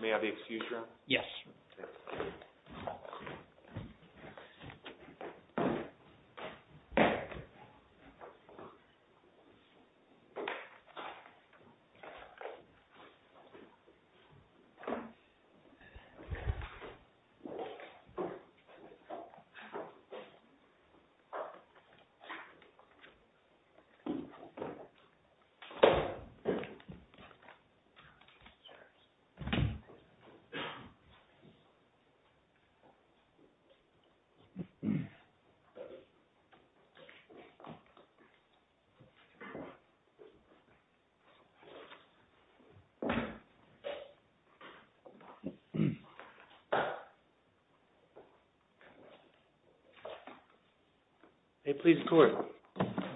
May I be excused, Your Honor? Yes. Thank you, Your Honor. Thank you, Your Honor. Thank you, Your Honor. Thank you, Your Honor. May it please the court.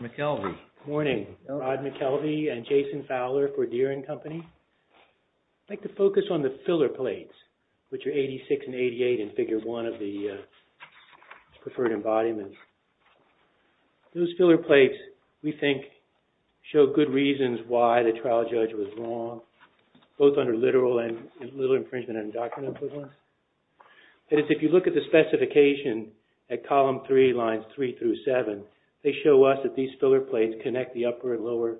McKelvey. Good morning. Rod McKelvey and Jason Fowler for Deering Company. I'd like to focus on the filler plates, which are 86 and 88 in Figure 1 of the preferred embodiments. Those filler plates, we think, show good reasons why the trial judge was wrong, both under literal infringement and undocumented equivalence. If you look at the specification at Column 3, Lines 3 through 7, they show us that these filler plates connect the upper and lower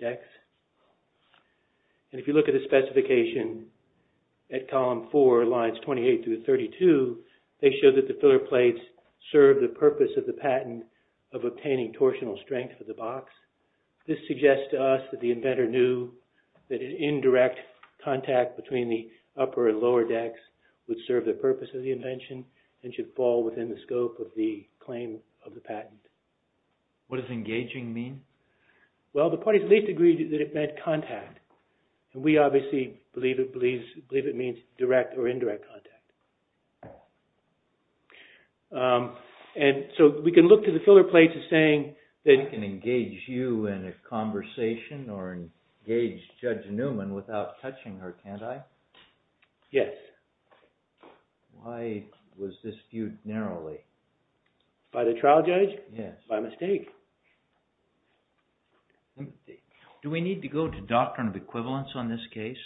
decks. If you look at the specification at Column 4, Lines 28 through 32, they show that the filler plates serve the purpose of the patent of obtaining torsional strength of the box. This suggests to us that the inventor knew that an indirect contact between the upper and lower decks would serve the purpose of the invention and should fall within the scope of the claim of the patent. What does engaging mean? Well, the parties at least agree that it meant contact. We obviously believe it means direct or indirect contact. And so we can look to the filler plates as saying that... I can engage you in a conversation or engage Judge Newman without touching her, can't I? Yes. Why was this viewed narrowly? By the trial judge? By mistake. Do we need to go to doctrine of equivalence on this case?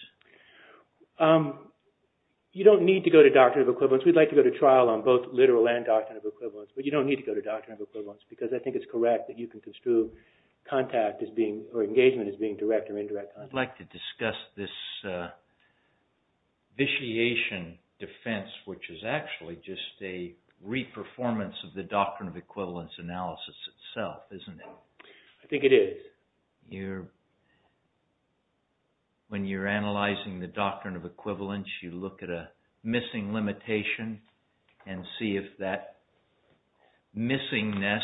You don't need to go to doctrine of equivalence. We'd like to go to trial on both literal and doctrine of equivalence, but you don't need to go to doctrine of equivalence because I think it's correct that you can construe engagement as being direct or indirect contact. I'd like to discuss this vitiation defense, which is actually just a re-performance of the doctrine of equivalence analysis itself, isn't it? I think it is. When you're analyzing the doctrine of equivalence, you look at a missing limitation and see if that missingness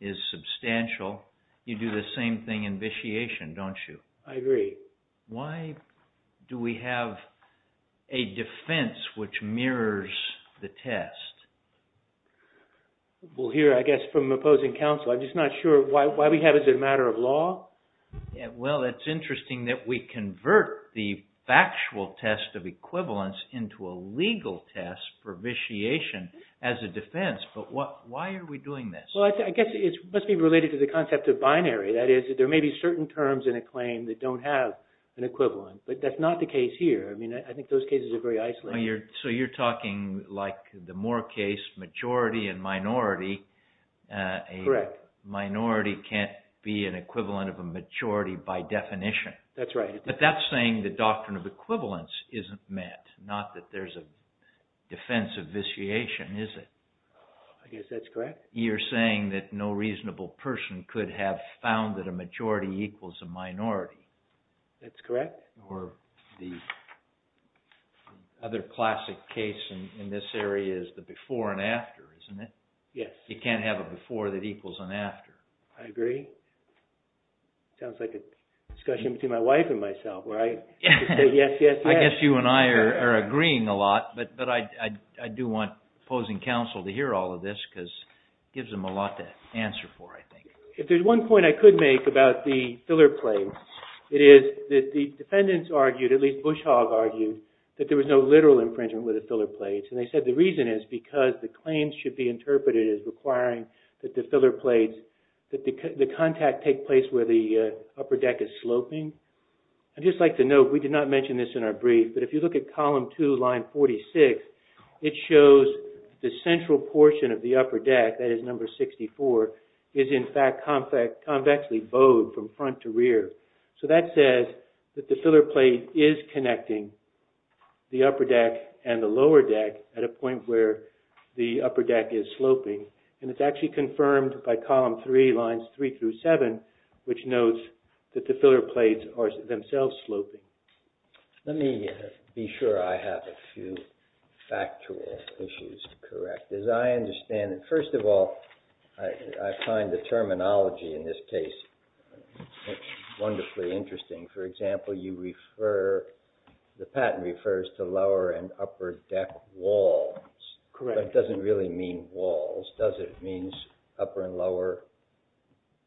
is substantial. You do the same thing in vitiation, don't you? I agree. Why do we have a defense which mirrors the test? We'll hear, I guess, from opposing counsel. I'm just not sure why we have it as a matter of law. Well, it's interesting that we convert the factual test of equivalence into a legal test for vitiation as a defense, but why are we doing this? I guess it must be related to the concept of binary. That is, there may be certain terms in a claim that don't have an equivalent, but that's not the case here. I mean, I think those cases are very isolated. So you're talking like the Moore case, majority and minority. Correct. A minority can't be an equivalent of a majority by definition. That's right. But that's saying the doctrine of equivalence isn't met, not that there's a defense of vitiation, is it? I guess that's correct. You're saying that no reasonable person could have found that a majority equals a minority. That's correct. Or the other classic case in this area is the before and after, isn't it? Yes. You can't have a before that equals an after. I agree. Sounds like a discussion between my wife and myself, right? Yes, yes, yes. I guess you and I are agreeing a lot, but I do want opposing counsel to hear all of this because it gives them a lot to answer for, I think. If there's one point I could make about the filler plates, it is that the defendants argued, at least Bushhaw argued, that there was no literal infringement with the filler plates. And they said the reason is because the claims should be interpreted as requiring that the filler plates, that the contact take place where the upper deck is sloping. I'd just like to note, we did not mention this in our brief, but if you look at column 2, line 46, it shows the central portion of the upper deck, that is number 64, is in fact convexly bowed from front to rear. So that says that the filler plate is connecting the upper deck and the lower deck at a point where the upper deck is sloping. And it's actually confirmed by column 3, lines 3 through 7, which notes that the filler plates are themselves sloping. Let me be sure I have a few factual issues correct. As I understand it, first of all, I find the terminology in this case wonderfully interesting. For example, you refer, the patent refers to lower and upper deck walls. Correct. But it doesn't really mean walls, does it? It means upper and lower,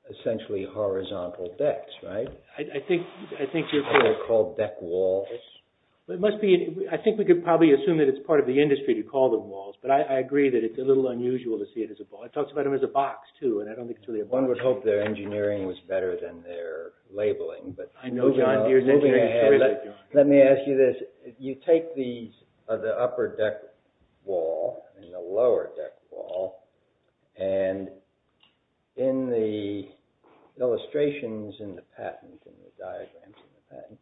essentially horizontal decks, right? Are they called deck walls? I think we could probably assume that it's part of the industry to call them walls, but I agree that it's a little unusual to see it as a wall. It talks about them as a box, too, and I don't think it's really a box. One would hope their engineering was better than their labeling. I know, John Deere's engineering is terrific, John. Let me ask you this. You take the upper deck wall and the lower deck wall, and in the illustrations in the patent, in the diagrams in the patent,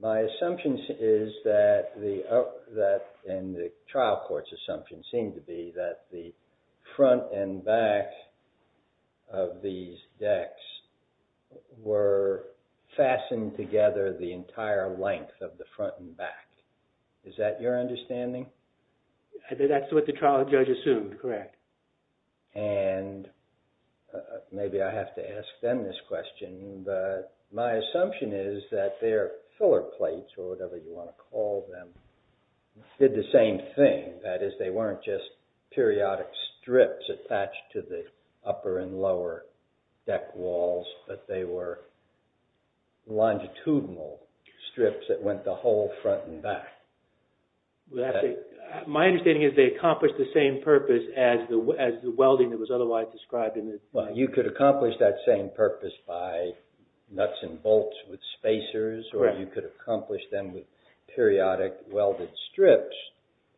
my assumption is that, and the trial court's assumption seemed to be, that the front and back of these decks were fastened together the entire length of the front and back. Is that your understanding? That's what the trial judge assumed, correct. And maybe I have to ask them this question, but my assumption is that their filler plates, or whatever you want to call them, did the same thing. That is, they weren't just periodic strips attached to the upper and lower deck walls, but they were longitudinal strips that went the whole front and back. My understanding is they accomplished the same purpose as the welding that was otherwise described. Well, you could accomplish that same purpose by nuts and bolts with spacers, or you could accomplish them with periodic welded strips,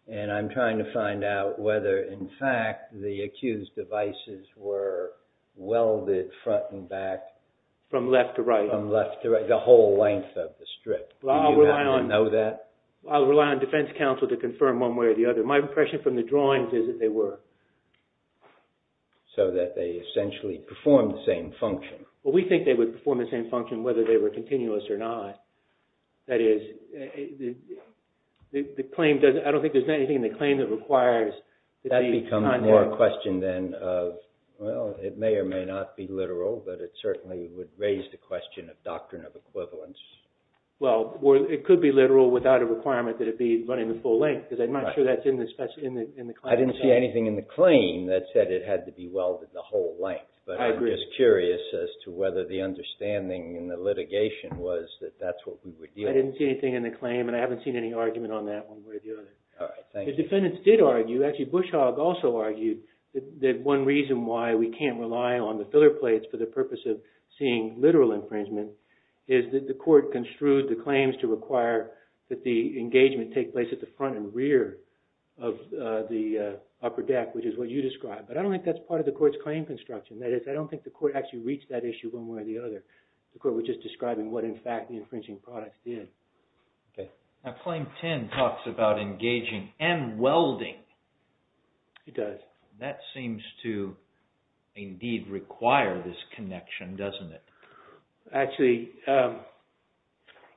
and I'm trying to find out whether, in fact, the accused devices were welded front and back. From left to right. From left to right, the whole length of the strip. Do you know that? I'll rely on defense counsel to confirm one way or the other. My impression from the drawings is that they were... So that they essentially performed the same function. Well, we think they would perform the same function whether they were continuous or not. That is, I don't think there's anything in the claim that requires... That becomes more a question then of, well, it may or may not be literal, but it certainly would raise the question of doctrine of equivalence. Well, it could be literal without a requirement that it be running the full length, because I'm not sure that's in the claim itself. I didn't see anything in the claim that said it had to be welded the whole length, but I'm just curious as to whether the understanding in the litigation was that that's what we would deal with. I didn't see anything in the claim, and I haven't seen any argument on that one way or the other. All right, thank you. The defendants did argue, actually, Bushog also argued, that one reason why we can't rely on the filler plates for the purpose of seeing literal infringement is that the court construed the claims to require that the engagement take place at the front and rear of the upper deck, which is what you described. But I don't think that's part of the court's claim construction. That is, I don't think the court actually reached that issue one way or the other. The court was just describing what, in fact, the infringing products did. Now, Claim 10 talks about engaging and welding. It does. That seems to, indeed, require this connection, doesn't it? Actually,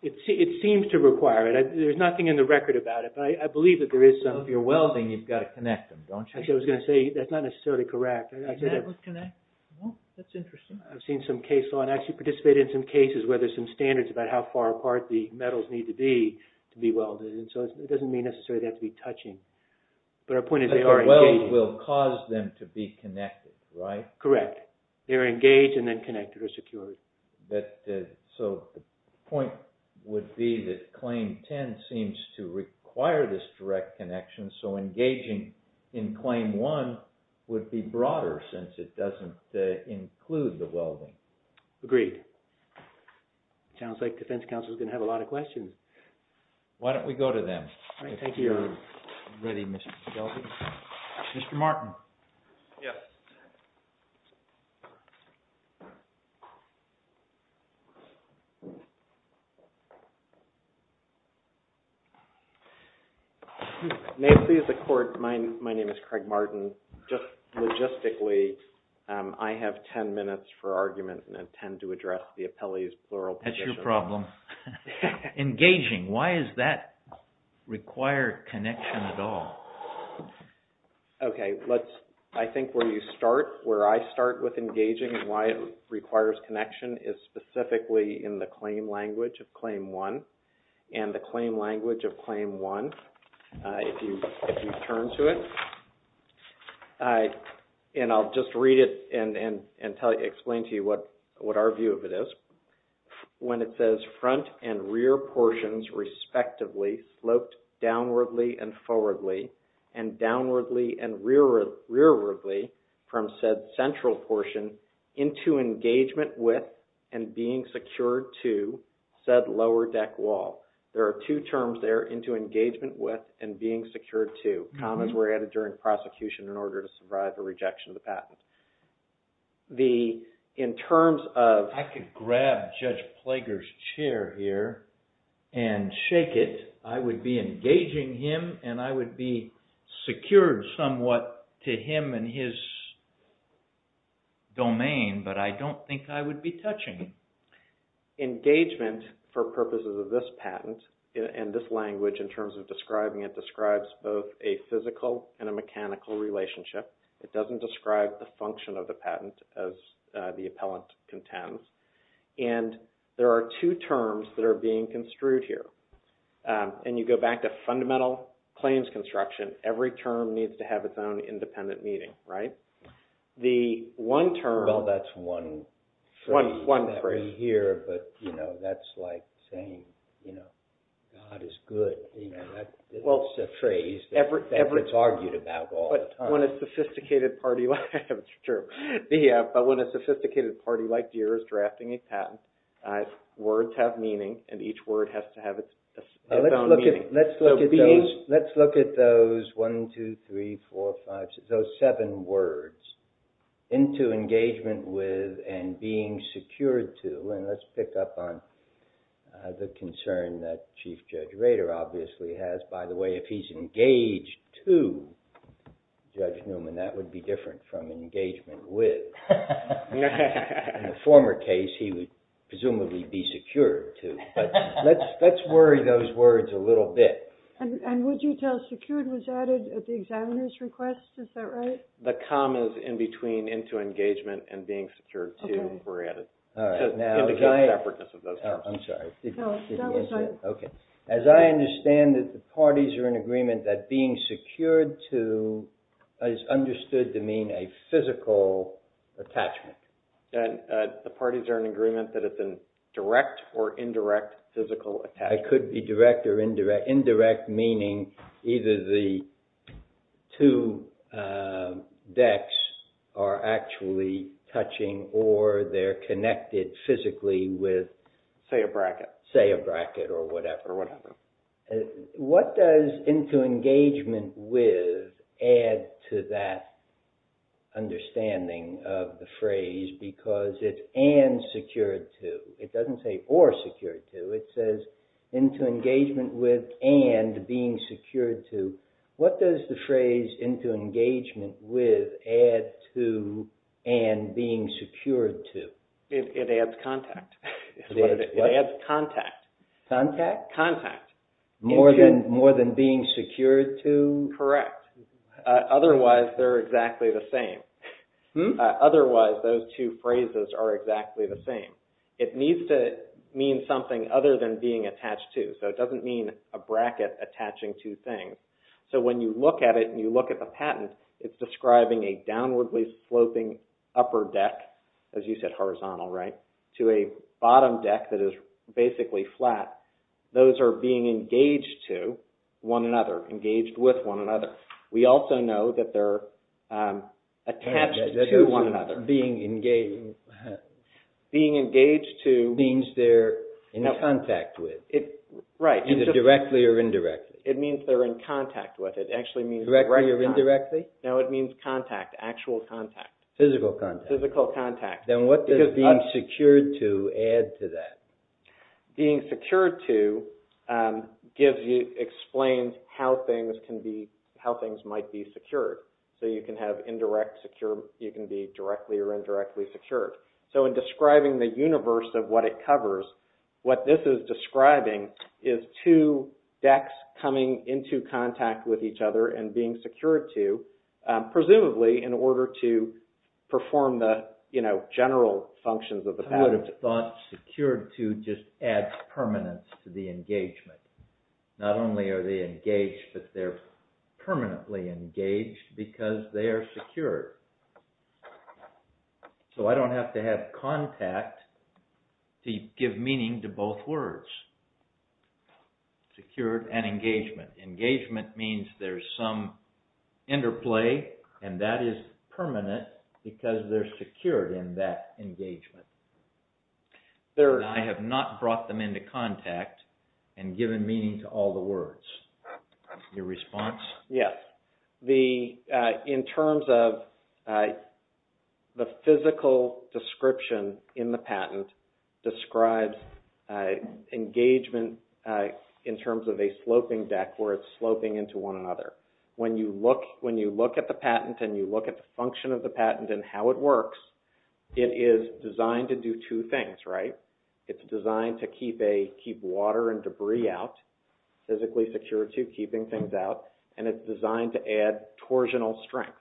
it seems to require it. There's nothing in the record about it, but I believe that there is some. So if you're welding, you've got to connect them, don't you? Actually, I was going to say, that's not necessarily correct. That would connect? Well, that's interesting. I've seen some case law, and I actually participated in some cases where there's some standards about how far apart the metals need to be to be welded. And so it doesn't mean necessarily they have to be touching. But our point is they are engaged. But the welds will cause them to be connected, right? Correct. They're engaged, and then connected or secured. So the point would be that Claim 10 seems to require this direct connection. So engaging in Claim 1 would be broader, since it doesn't include the welding. Agreed. Sounds like Defense Counsel is going to have a lot of questions. Why don't we go to them? All right, thank you. If you're ready, Mr. Shelby. Mr. Martin. Yes. May it please the Court, my name is Craig Martin. Just logistically, I have 10 minutes for argument and intend to address the appellee's plural position. That's your problem. Engaging, why does that require connection at all? OK, I think where you start, where I start with engaging and why it requires connection is specifically in the claim language of Claim 1. And the claim language of Claim 1, if you turn to it, and I'll just read it and explain to you what our view of it is. When it says, front and rear portions respectively sloped downwardly and forwardly, and downwardly and rearwardly from said central portion into engagement with and being secured to said lower deck wall. There are two terms there, into engagement with and being secured to. Commas were added during prosecution in order to survive a rejection of the patent. In terms of... ...and shake it, I would be engaging him and I would be secured somewhat to him and his domain, but I don't think I would be touching him. Engagement for purposes of this patent and this language in terms of describing it describes both a physical and a mechanical relationship. It doesn't describe the function of the patent as the appellant contends. And there are two terms that are being construed here. And you go back to fundamental claims construction. Every term needs to have its own independent meaning, right? The one term... Well, that's one phrase that we hear, but that's like saying, God is good. That's a phrase that gets argued about all the time. But when a sophisticated party... It's true. Yeah, but when a sophisticated party like Deere is drafting a patent, words have meaning and each word has to have its own meaning. Let's look at those 1, 2, 3, 4, 5, 6, those seven words, into engagement with and being secured to. And let's pick up on the concern that Chief Judge Rader obviously has. By the way, if he's engaged to Judge Newman, that would be different from engagement with. In the former case, he would presumably be secured to. But let's worry those words a little bit. And would you tell secured was added at the examiner's request? Is that right? The commas in between into engagement and being secured to were added to indicate the effortness of those terms. Oh, I'm sorry. No, that was fine. Okay. As I understand it, the parties are in agreement that being secured to is understood to mean a physical attachment. The parties are in agreement that it's a direct or indirect physical attachment. It could be direct or indirect, indirect meaning either the two decks are actually touching or they're connected physically with... Say a bracket. Say a bracket or whatever. Or whatever. What does into engagement with add to that understanding of the phrase because it's and secured to? It doesn't say or secured to. It says into engagement with and being secured to. What does the phrase into engagement with add to and being secured to? It adds contact. What? It adds contact. Contact? Contact. More than being secured to? Correct. Otherwise, they're exactly the same. Otherwise, those two phrases are exactly the same. It needs to mean something other than being attached to. So it doesn't mean a bracket attaching two things. So when you look at it and you look at the patent, it's describing a downwardly sloping upper deck, as you said horizontal, right, to a bottom deck that is basically flat those are being engaged to one another, engaged with one another. We also know that they're attached to one another. Being engaged... Being engaged to... Means they're in contact with. Right. Either directly or indirectly. It means they're in contact with. It actually means... Directly or indirectly? No, it means contact, actual contact. Physical contact. Physical contact. Then what does being secured to add to that? Being secured to gives you, explains how things can be, how things might be secured. So you can have indirect secure, you can be directly or indirectly secured. So in describing the universe of what it covers, what this is describing is two decks coming into contact with each other and being secured to, presumably in order to perform the, you know, general functions of the patent. I would have thought secured to just adds permanence to the engagement. Not only are they engaged, but they're permanently engaged because they are secured. So I don't have to have contact to give meaning to both words. Secured and engagement. Engagement means there's some interplay and that is permanent because they're secured in that engagement. I have not brought them into contact and given meaning to all the words. Your response? Yes. The, in terms of the physical description in the patent describes engagement in terms of a sloping deck where it's sloping into one another. When you look at the patent and you look at the function of the patent and how it works, it is designed to do two things, right? It's designed to keep water and debris out, physically secured to, keeping things out. And it's designed to add torsional strength,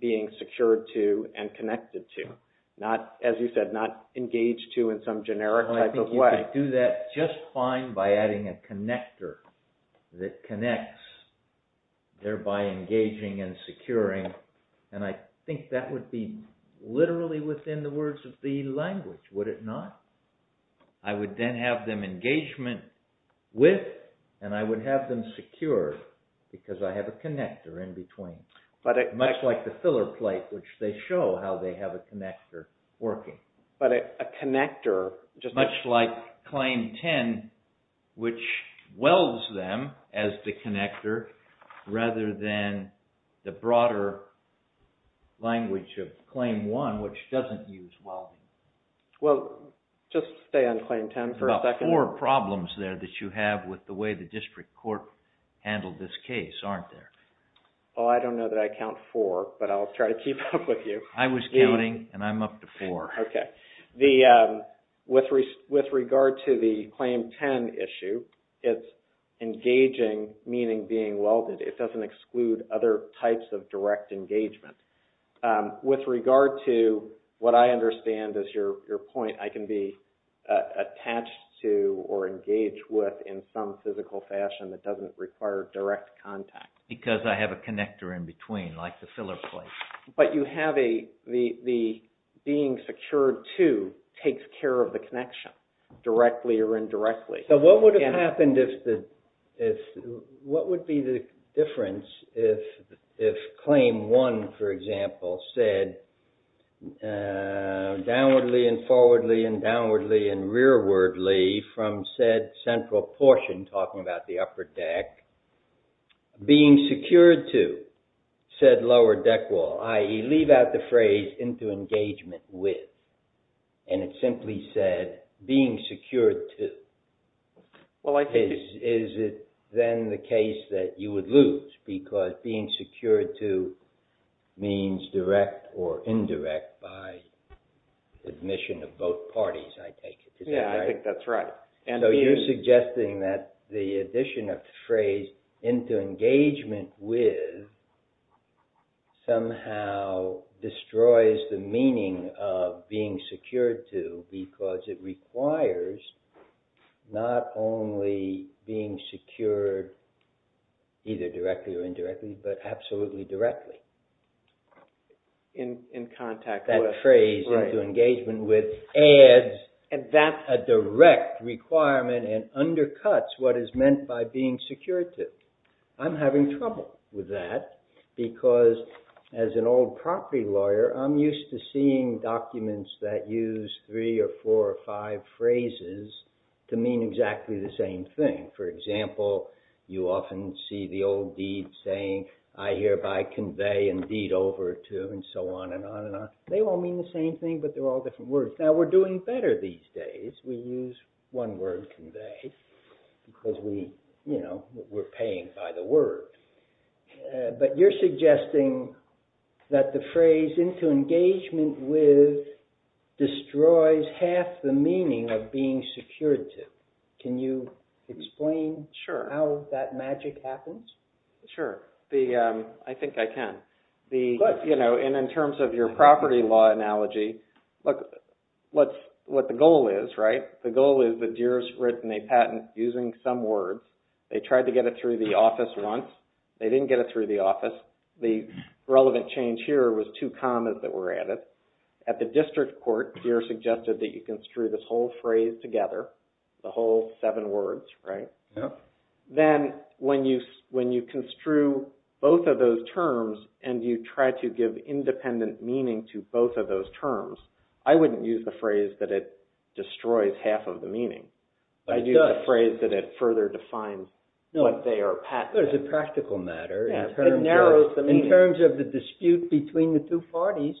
being secured to and connected to. Not, as you said, not engaged to in some generic type of way. I think you could do that just fine by adding a connector that connects, thereby engaging and securing. And I think that would be literally within the words of the language, would it not? I would then have them engagement with and I would have them secure because I have a connector in between. Much like the filler plate, which they show how they have a connector working. But a connector just... Much like claim 10, which welds them as the connector rather than the broader language of claim 1, which doesn't use welding. Well, just stay on claim 10 for a second. There's about four problems there that you have with the way the district court handled this case, aren't there? Well, I don't know that I count four, but I'll try to keep up with you. I was counting and I'm up to four. Okay. With regard to the claim 10 issue, it's engaging, meaning being welded. It doesn't exclude other types of direct engagement. With regard to what I understand is your point, I can be attached to or engage with in some physical fashion that doesn't require direct contact. Because I have a connector in between, like the filler plate. But you have the being secured to takes care of the connection, directly or indirectly. So what would have happened if... What would be the difference if claim 1, for example, said downwardly and forwardly and downwardly and rearwardly from said central portion, talking about the upper deck, being secured to said lower deck wall, i.e. leave out the phrase into engagement with. And it simply said being secured to. Well, I think... Is it then the case that you would lose because being secured to means direct or indirect by admission of both parties, I take it. Yeah, I think that's right. So you're suggesting that the addition of the phrase into engagement with somehow destroys the meaning of being secured to because it requires not only being secured either directly or indirectly, but absolutely directly. In contact with. That phrase into engagement with adds a direct requirement and undercuts what is meant by being secured to. I'm having trouble with that because as an old property lawyer, I'm used to seeing documents that use three or four or five phrases to mean exactly the same thing. For example, you often see the old deed saying I hereby convey and deed over to and so on and on and on. They all mean the same thing, but they're all different words. Now, we're doing better these days. We use one word, convey, because we, you know, we're paying by the word. But you're suggesting that the phrase into engagement with destroys half the meaning of being secured to. Can you explain how that magic happens? Sure. I think I can. In terms of your property law analogy, look, what the goal is, right? The goal is that Deere's written a patent using some words. They tried to get it through the office once. They didn't get it through the office. The relevant change here was two commas that were added. At the district court, Deere suggested that you construe this whole phrase together, the whole seven words, right? Then when you construe both of those terms and you try to give independent meaning to both of those terms, I wouldn't use the phrase that it destroys half of the meaning. I'd use the phrase that it further defines what they are patenting. It's a practical matter. It narrows the meaning. In terms of the dispute between the two parties,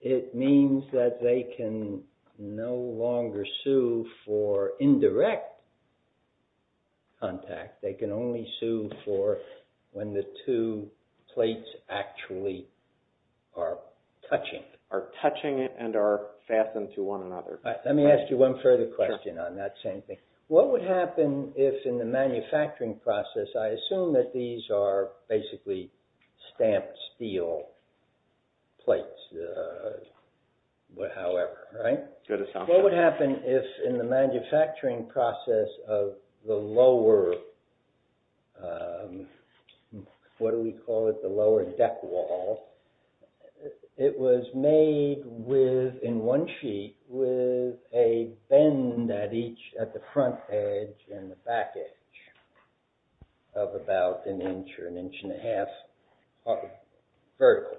it means that they can no longer sue for indirect contact. They can only sue for when the two plates actually are touching it. Are touching it and are fastened to one another. Let me ask you one further question on that same thing. What would happen if in the manufacturing process, I assume that these are basically stamped steel plates, however, right? Good assumption. What would happen if in the manufacturing process of the lower, what do we call it, the lower deck wall, it was made with, in one sheet, with a bend at each, at the front edge and the back edge of about an inch or an inch and a half vertically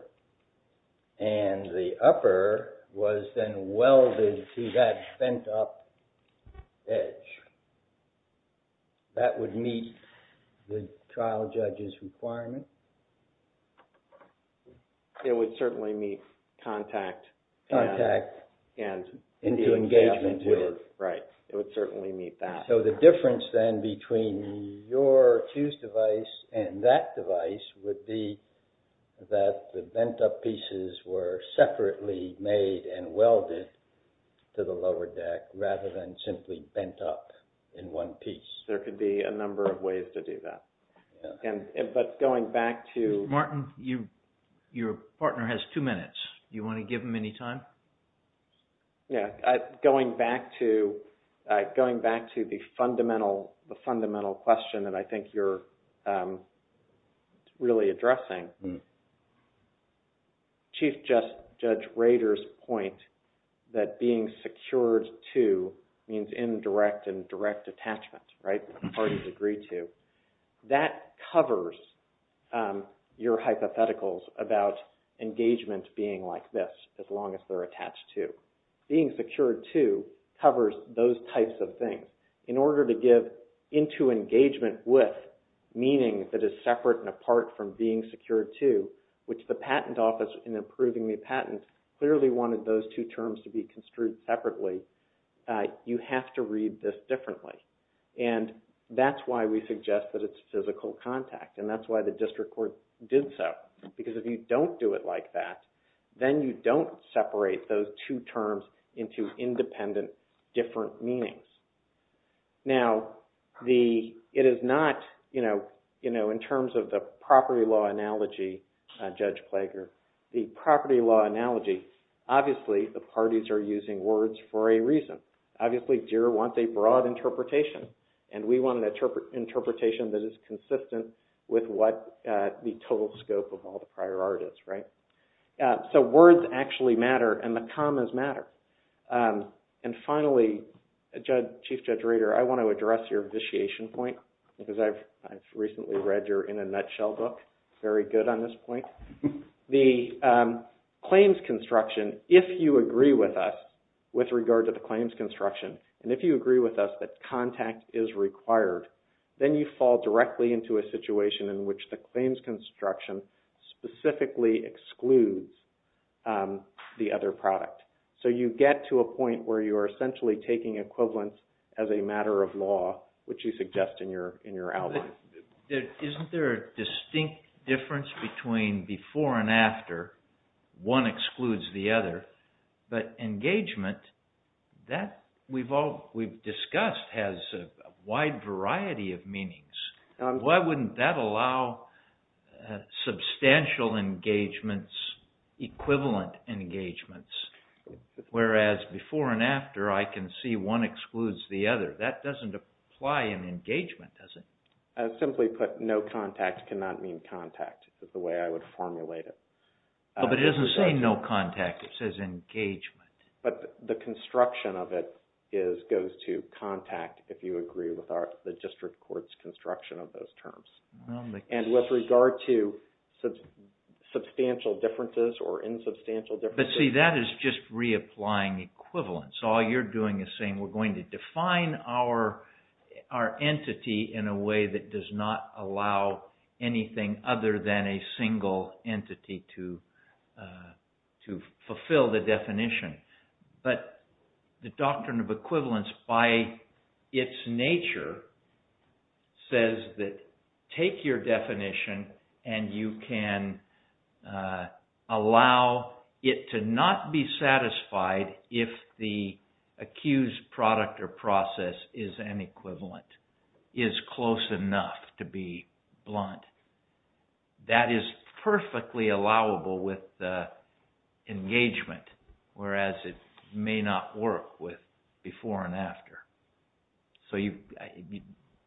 and the upper was then welded to that bent up edge. That would meet the trial judge's requirement? It would certainly meet contact and engagement. Right. It would certainly meet that. So the difference then between your fuse device and that device would be that the bent up pieces were separately made and welded to the lower deck rather than simply bent up in one piece. There could be a number of ways to do that. But going back to... Mr. Martin, your partner has two minutes. Do you want to give him any time? Yeah, going back to the fundamental question that I think you're really addressing, Chief Judge Rader's point that being secured to means indirect and direct attachment, right? The parties agree to. That covers your hypotheticals about engagement being like this as long as they're attached to. Being secured to covers those types of things. In order to give into engagement with meaning that is separate and apart from being secured to, which the patent office in approving the patent clearly wanted those two terms to be construed separately, you have to read this differently. And that's why we suggest that it's physical contact. And that's why the district court did so. Because if you don't do it like that, then you don't separate those two terms into independent, different meanings. Now, it is not, you know, in terms of the property law analogy, Judge Plager, the property law analogy, obviously, the parties are using words for a reason. Obviously, JIRA wants a broad interpretation. And we want an interpretation that is consistent with what the total scope of all the prior art is, right? So words actually matter and the commas matter. And finally, Chief Judge Rader, I want to address your vitiation point because I've recently read your In a Nutshell book. It's very good on this point. The claims construction, if you agree with us with regard to the claims construction, and if you agree with us that contact is required, then you fall directly into a situation in which the claims construction specifically excludes the other product. So you get to a point where you are essentially taking equivalence as a matter of law, which you suggest in your outline. Isn't there a distinct difference between before and after one excludes the other, but engagement, that we've discussed has a wide variety of meanings. Why wouldn't that allow substantial engagements, equivalent engagements, whereas before and after I can see one excludes the other. That doesn't apply in engagement, does it? Simply put, no contact cannot mean contact is the way I would formulate it. But it doesn't say no contact. It says engagement. But the construction of it goes to contact if you agree with the district court's construction of those terms. And with regard to substantial differences or insubstantial differences... But see, that is just reapplying equivalence. All you're doing is saying we're going to define our entity in a way that does not allow anything other than a single entity to fulfill the definition. But the doctrine of equivalence by its nature says that take your definition and you can allow it to not be satisfied if the accused product or process is an equivalent, is close enough to be blunt. That is perfectly allowable with engagement whereas it may not work with before and after. So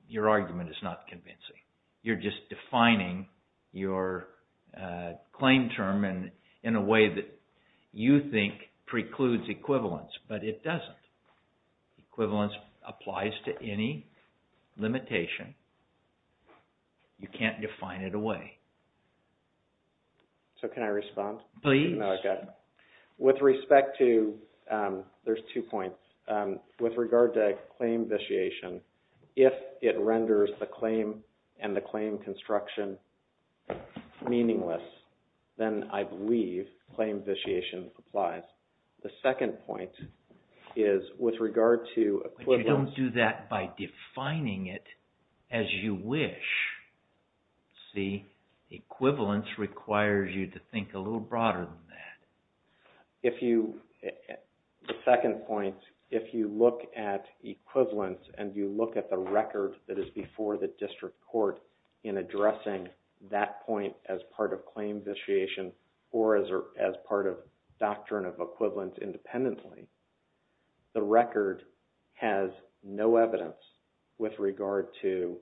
your argument is not convincing. You're just defining your claim term in a way that you think precludes equivalence. But it doesn't. Equivalence applies to any limitation. You can't define it away. So can I respond? Please. With respect to... There's two points. With regard to claim vitiation, if it renders the claim and the claim construction meaningless, then I believe claim vitiation applies. The second point is with regard to equivalence... But you don't do that by defining it as you wish. See? Equivalence requires you to think a little broader than that. If you... The second point, if you look at equivalence and you look at the record that is before the district court in addressing that point as part of claim vitiation or as part of doctrine of equivalence independently, the record has no evidence with regard to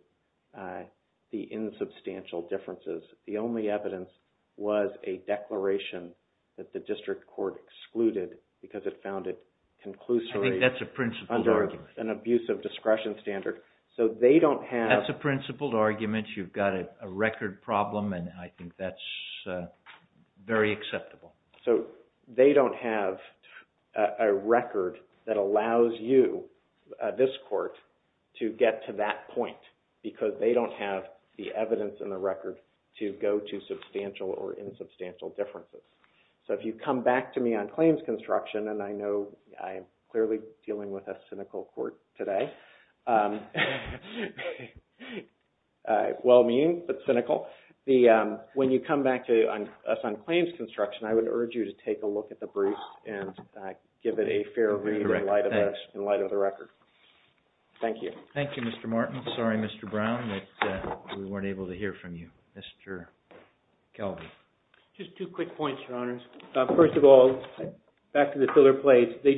the insubstantial differences. The only evidence was a declaration that the district court excluded because it found it conclusory... I think that's a principled argument. ...under an abusive discretion standard. So they don't have... That's a principled argument. You've got a record problem and I think that's very acceptable. So they don't have a record that allows you, this court, to get to that point because they don't have the evidence in the record to go to substantial or insubstantial differences. So if you come back to me on claims construction and I know I'm clearly dealing with a cynical court today. Well-mean, but cynical. When you come back to us on claims construction, I would urge you to take a look at the briefs and give it a fair read in light of the record. Thank you. Thank you, Mr. Martin. Sorry, Mr. Brown, that we weren't able to hear from you. Mr. Kelvin. Just two quick points, Your Honors. First of all, back to the filler plates, they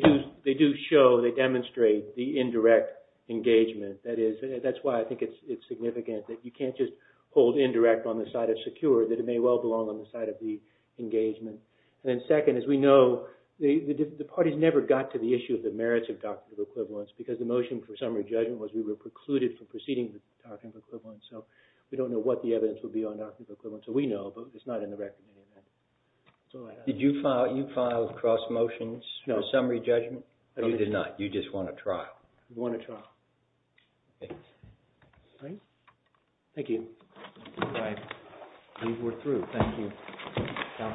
do show, they demonstrate the indirect engagement. That's why I think it's significant that you can't just hold indirect on the side of secure, that it may well belong on the side of the engagement. And then second, as we know, the parties never got to the issue of the merits of doctrinal equivalence because the motion for summary judgment was we were precluded from proceeding with doctrinal equivalence. So we don't know what the evidence will be on doctrinal equivalence. So we know, but it's not in the record. Did you file cross motions for summary judgment? No. No, you did not. You just won a trial. You won a trial. Thank you. Thank you. All right. We're through. Thank you. Thank you.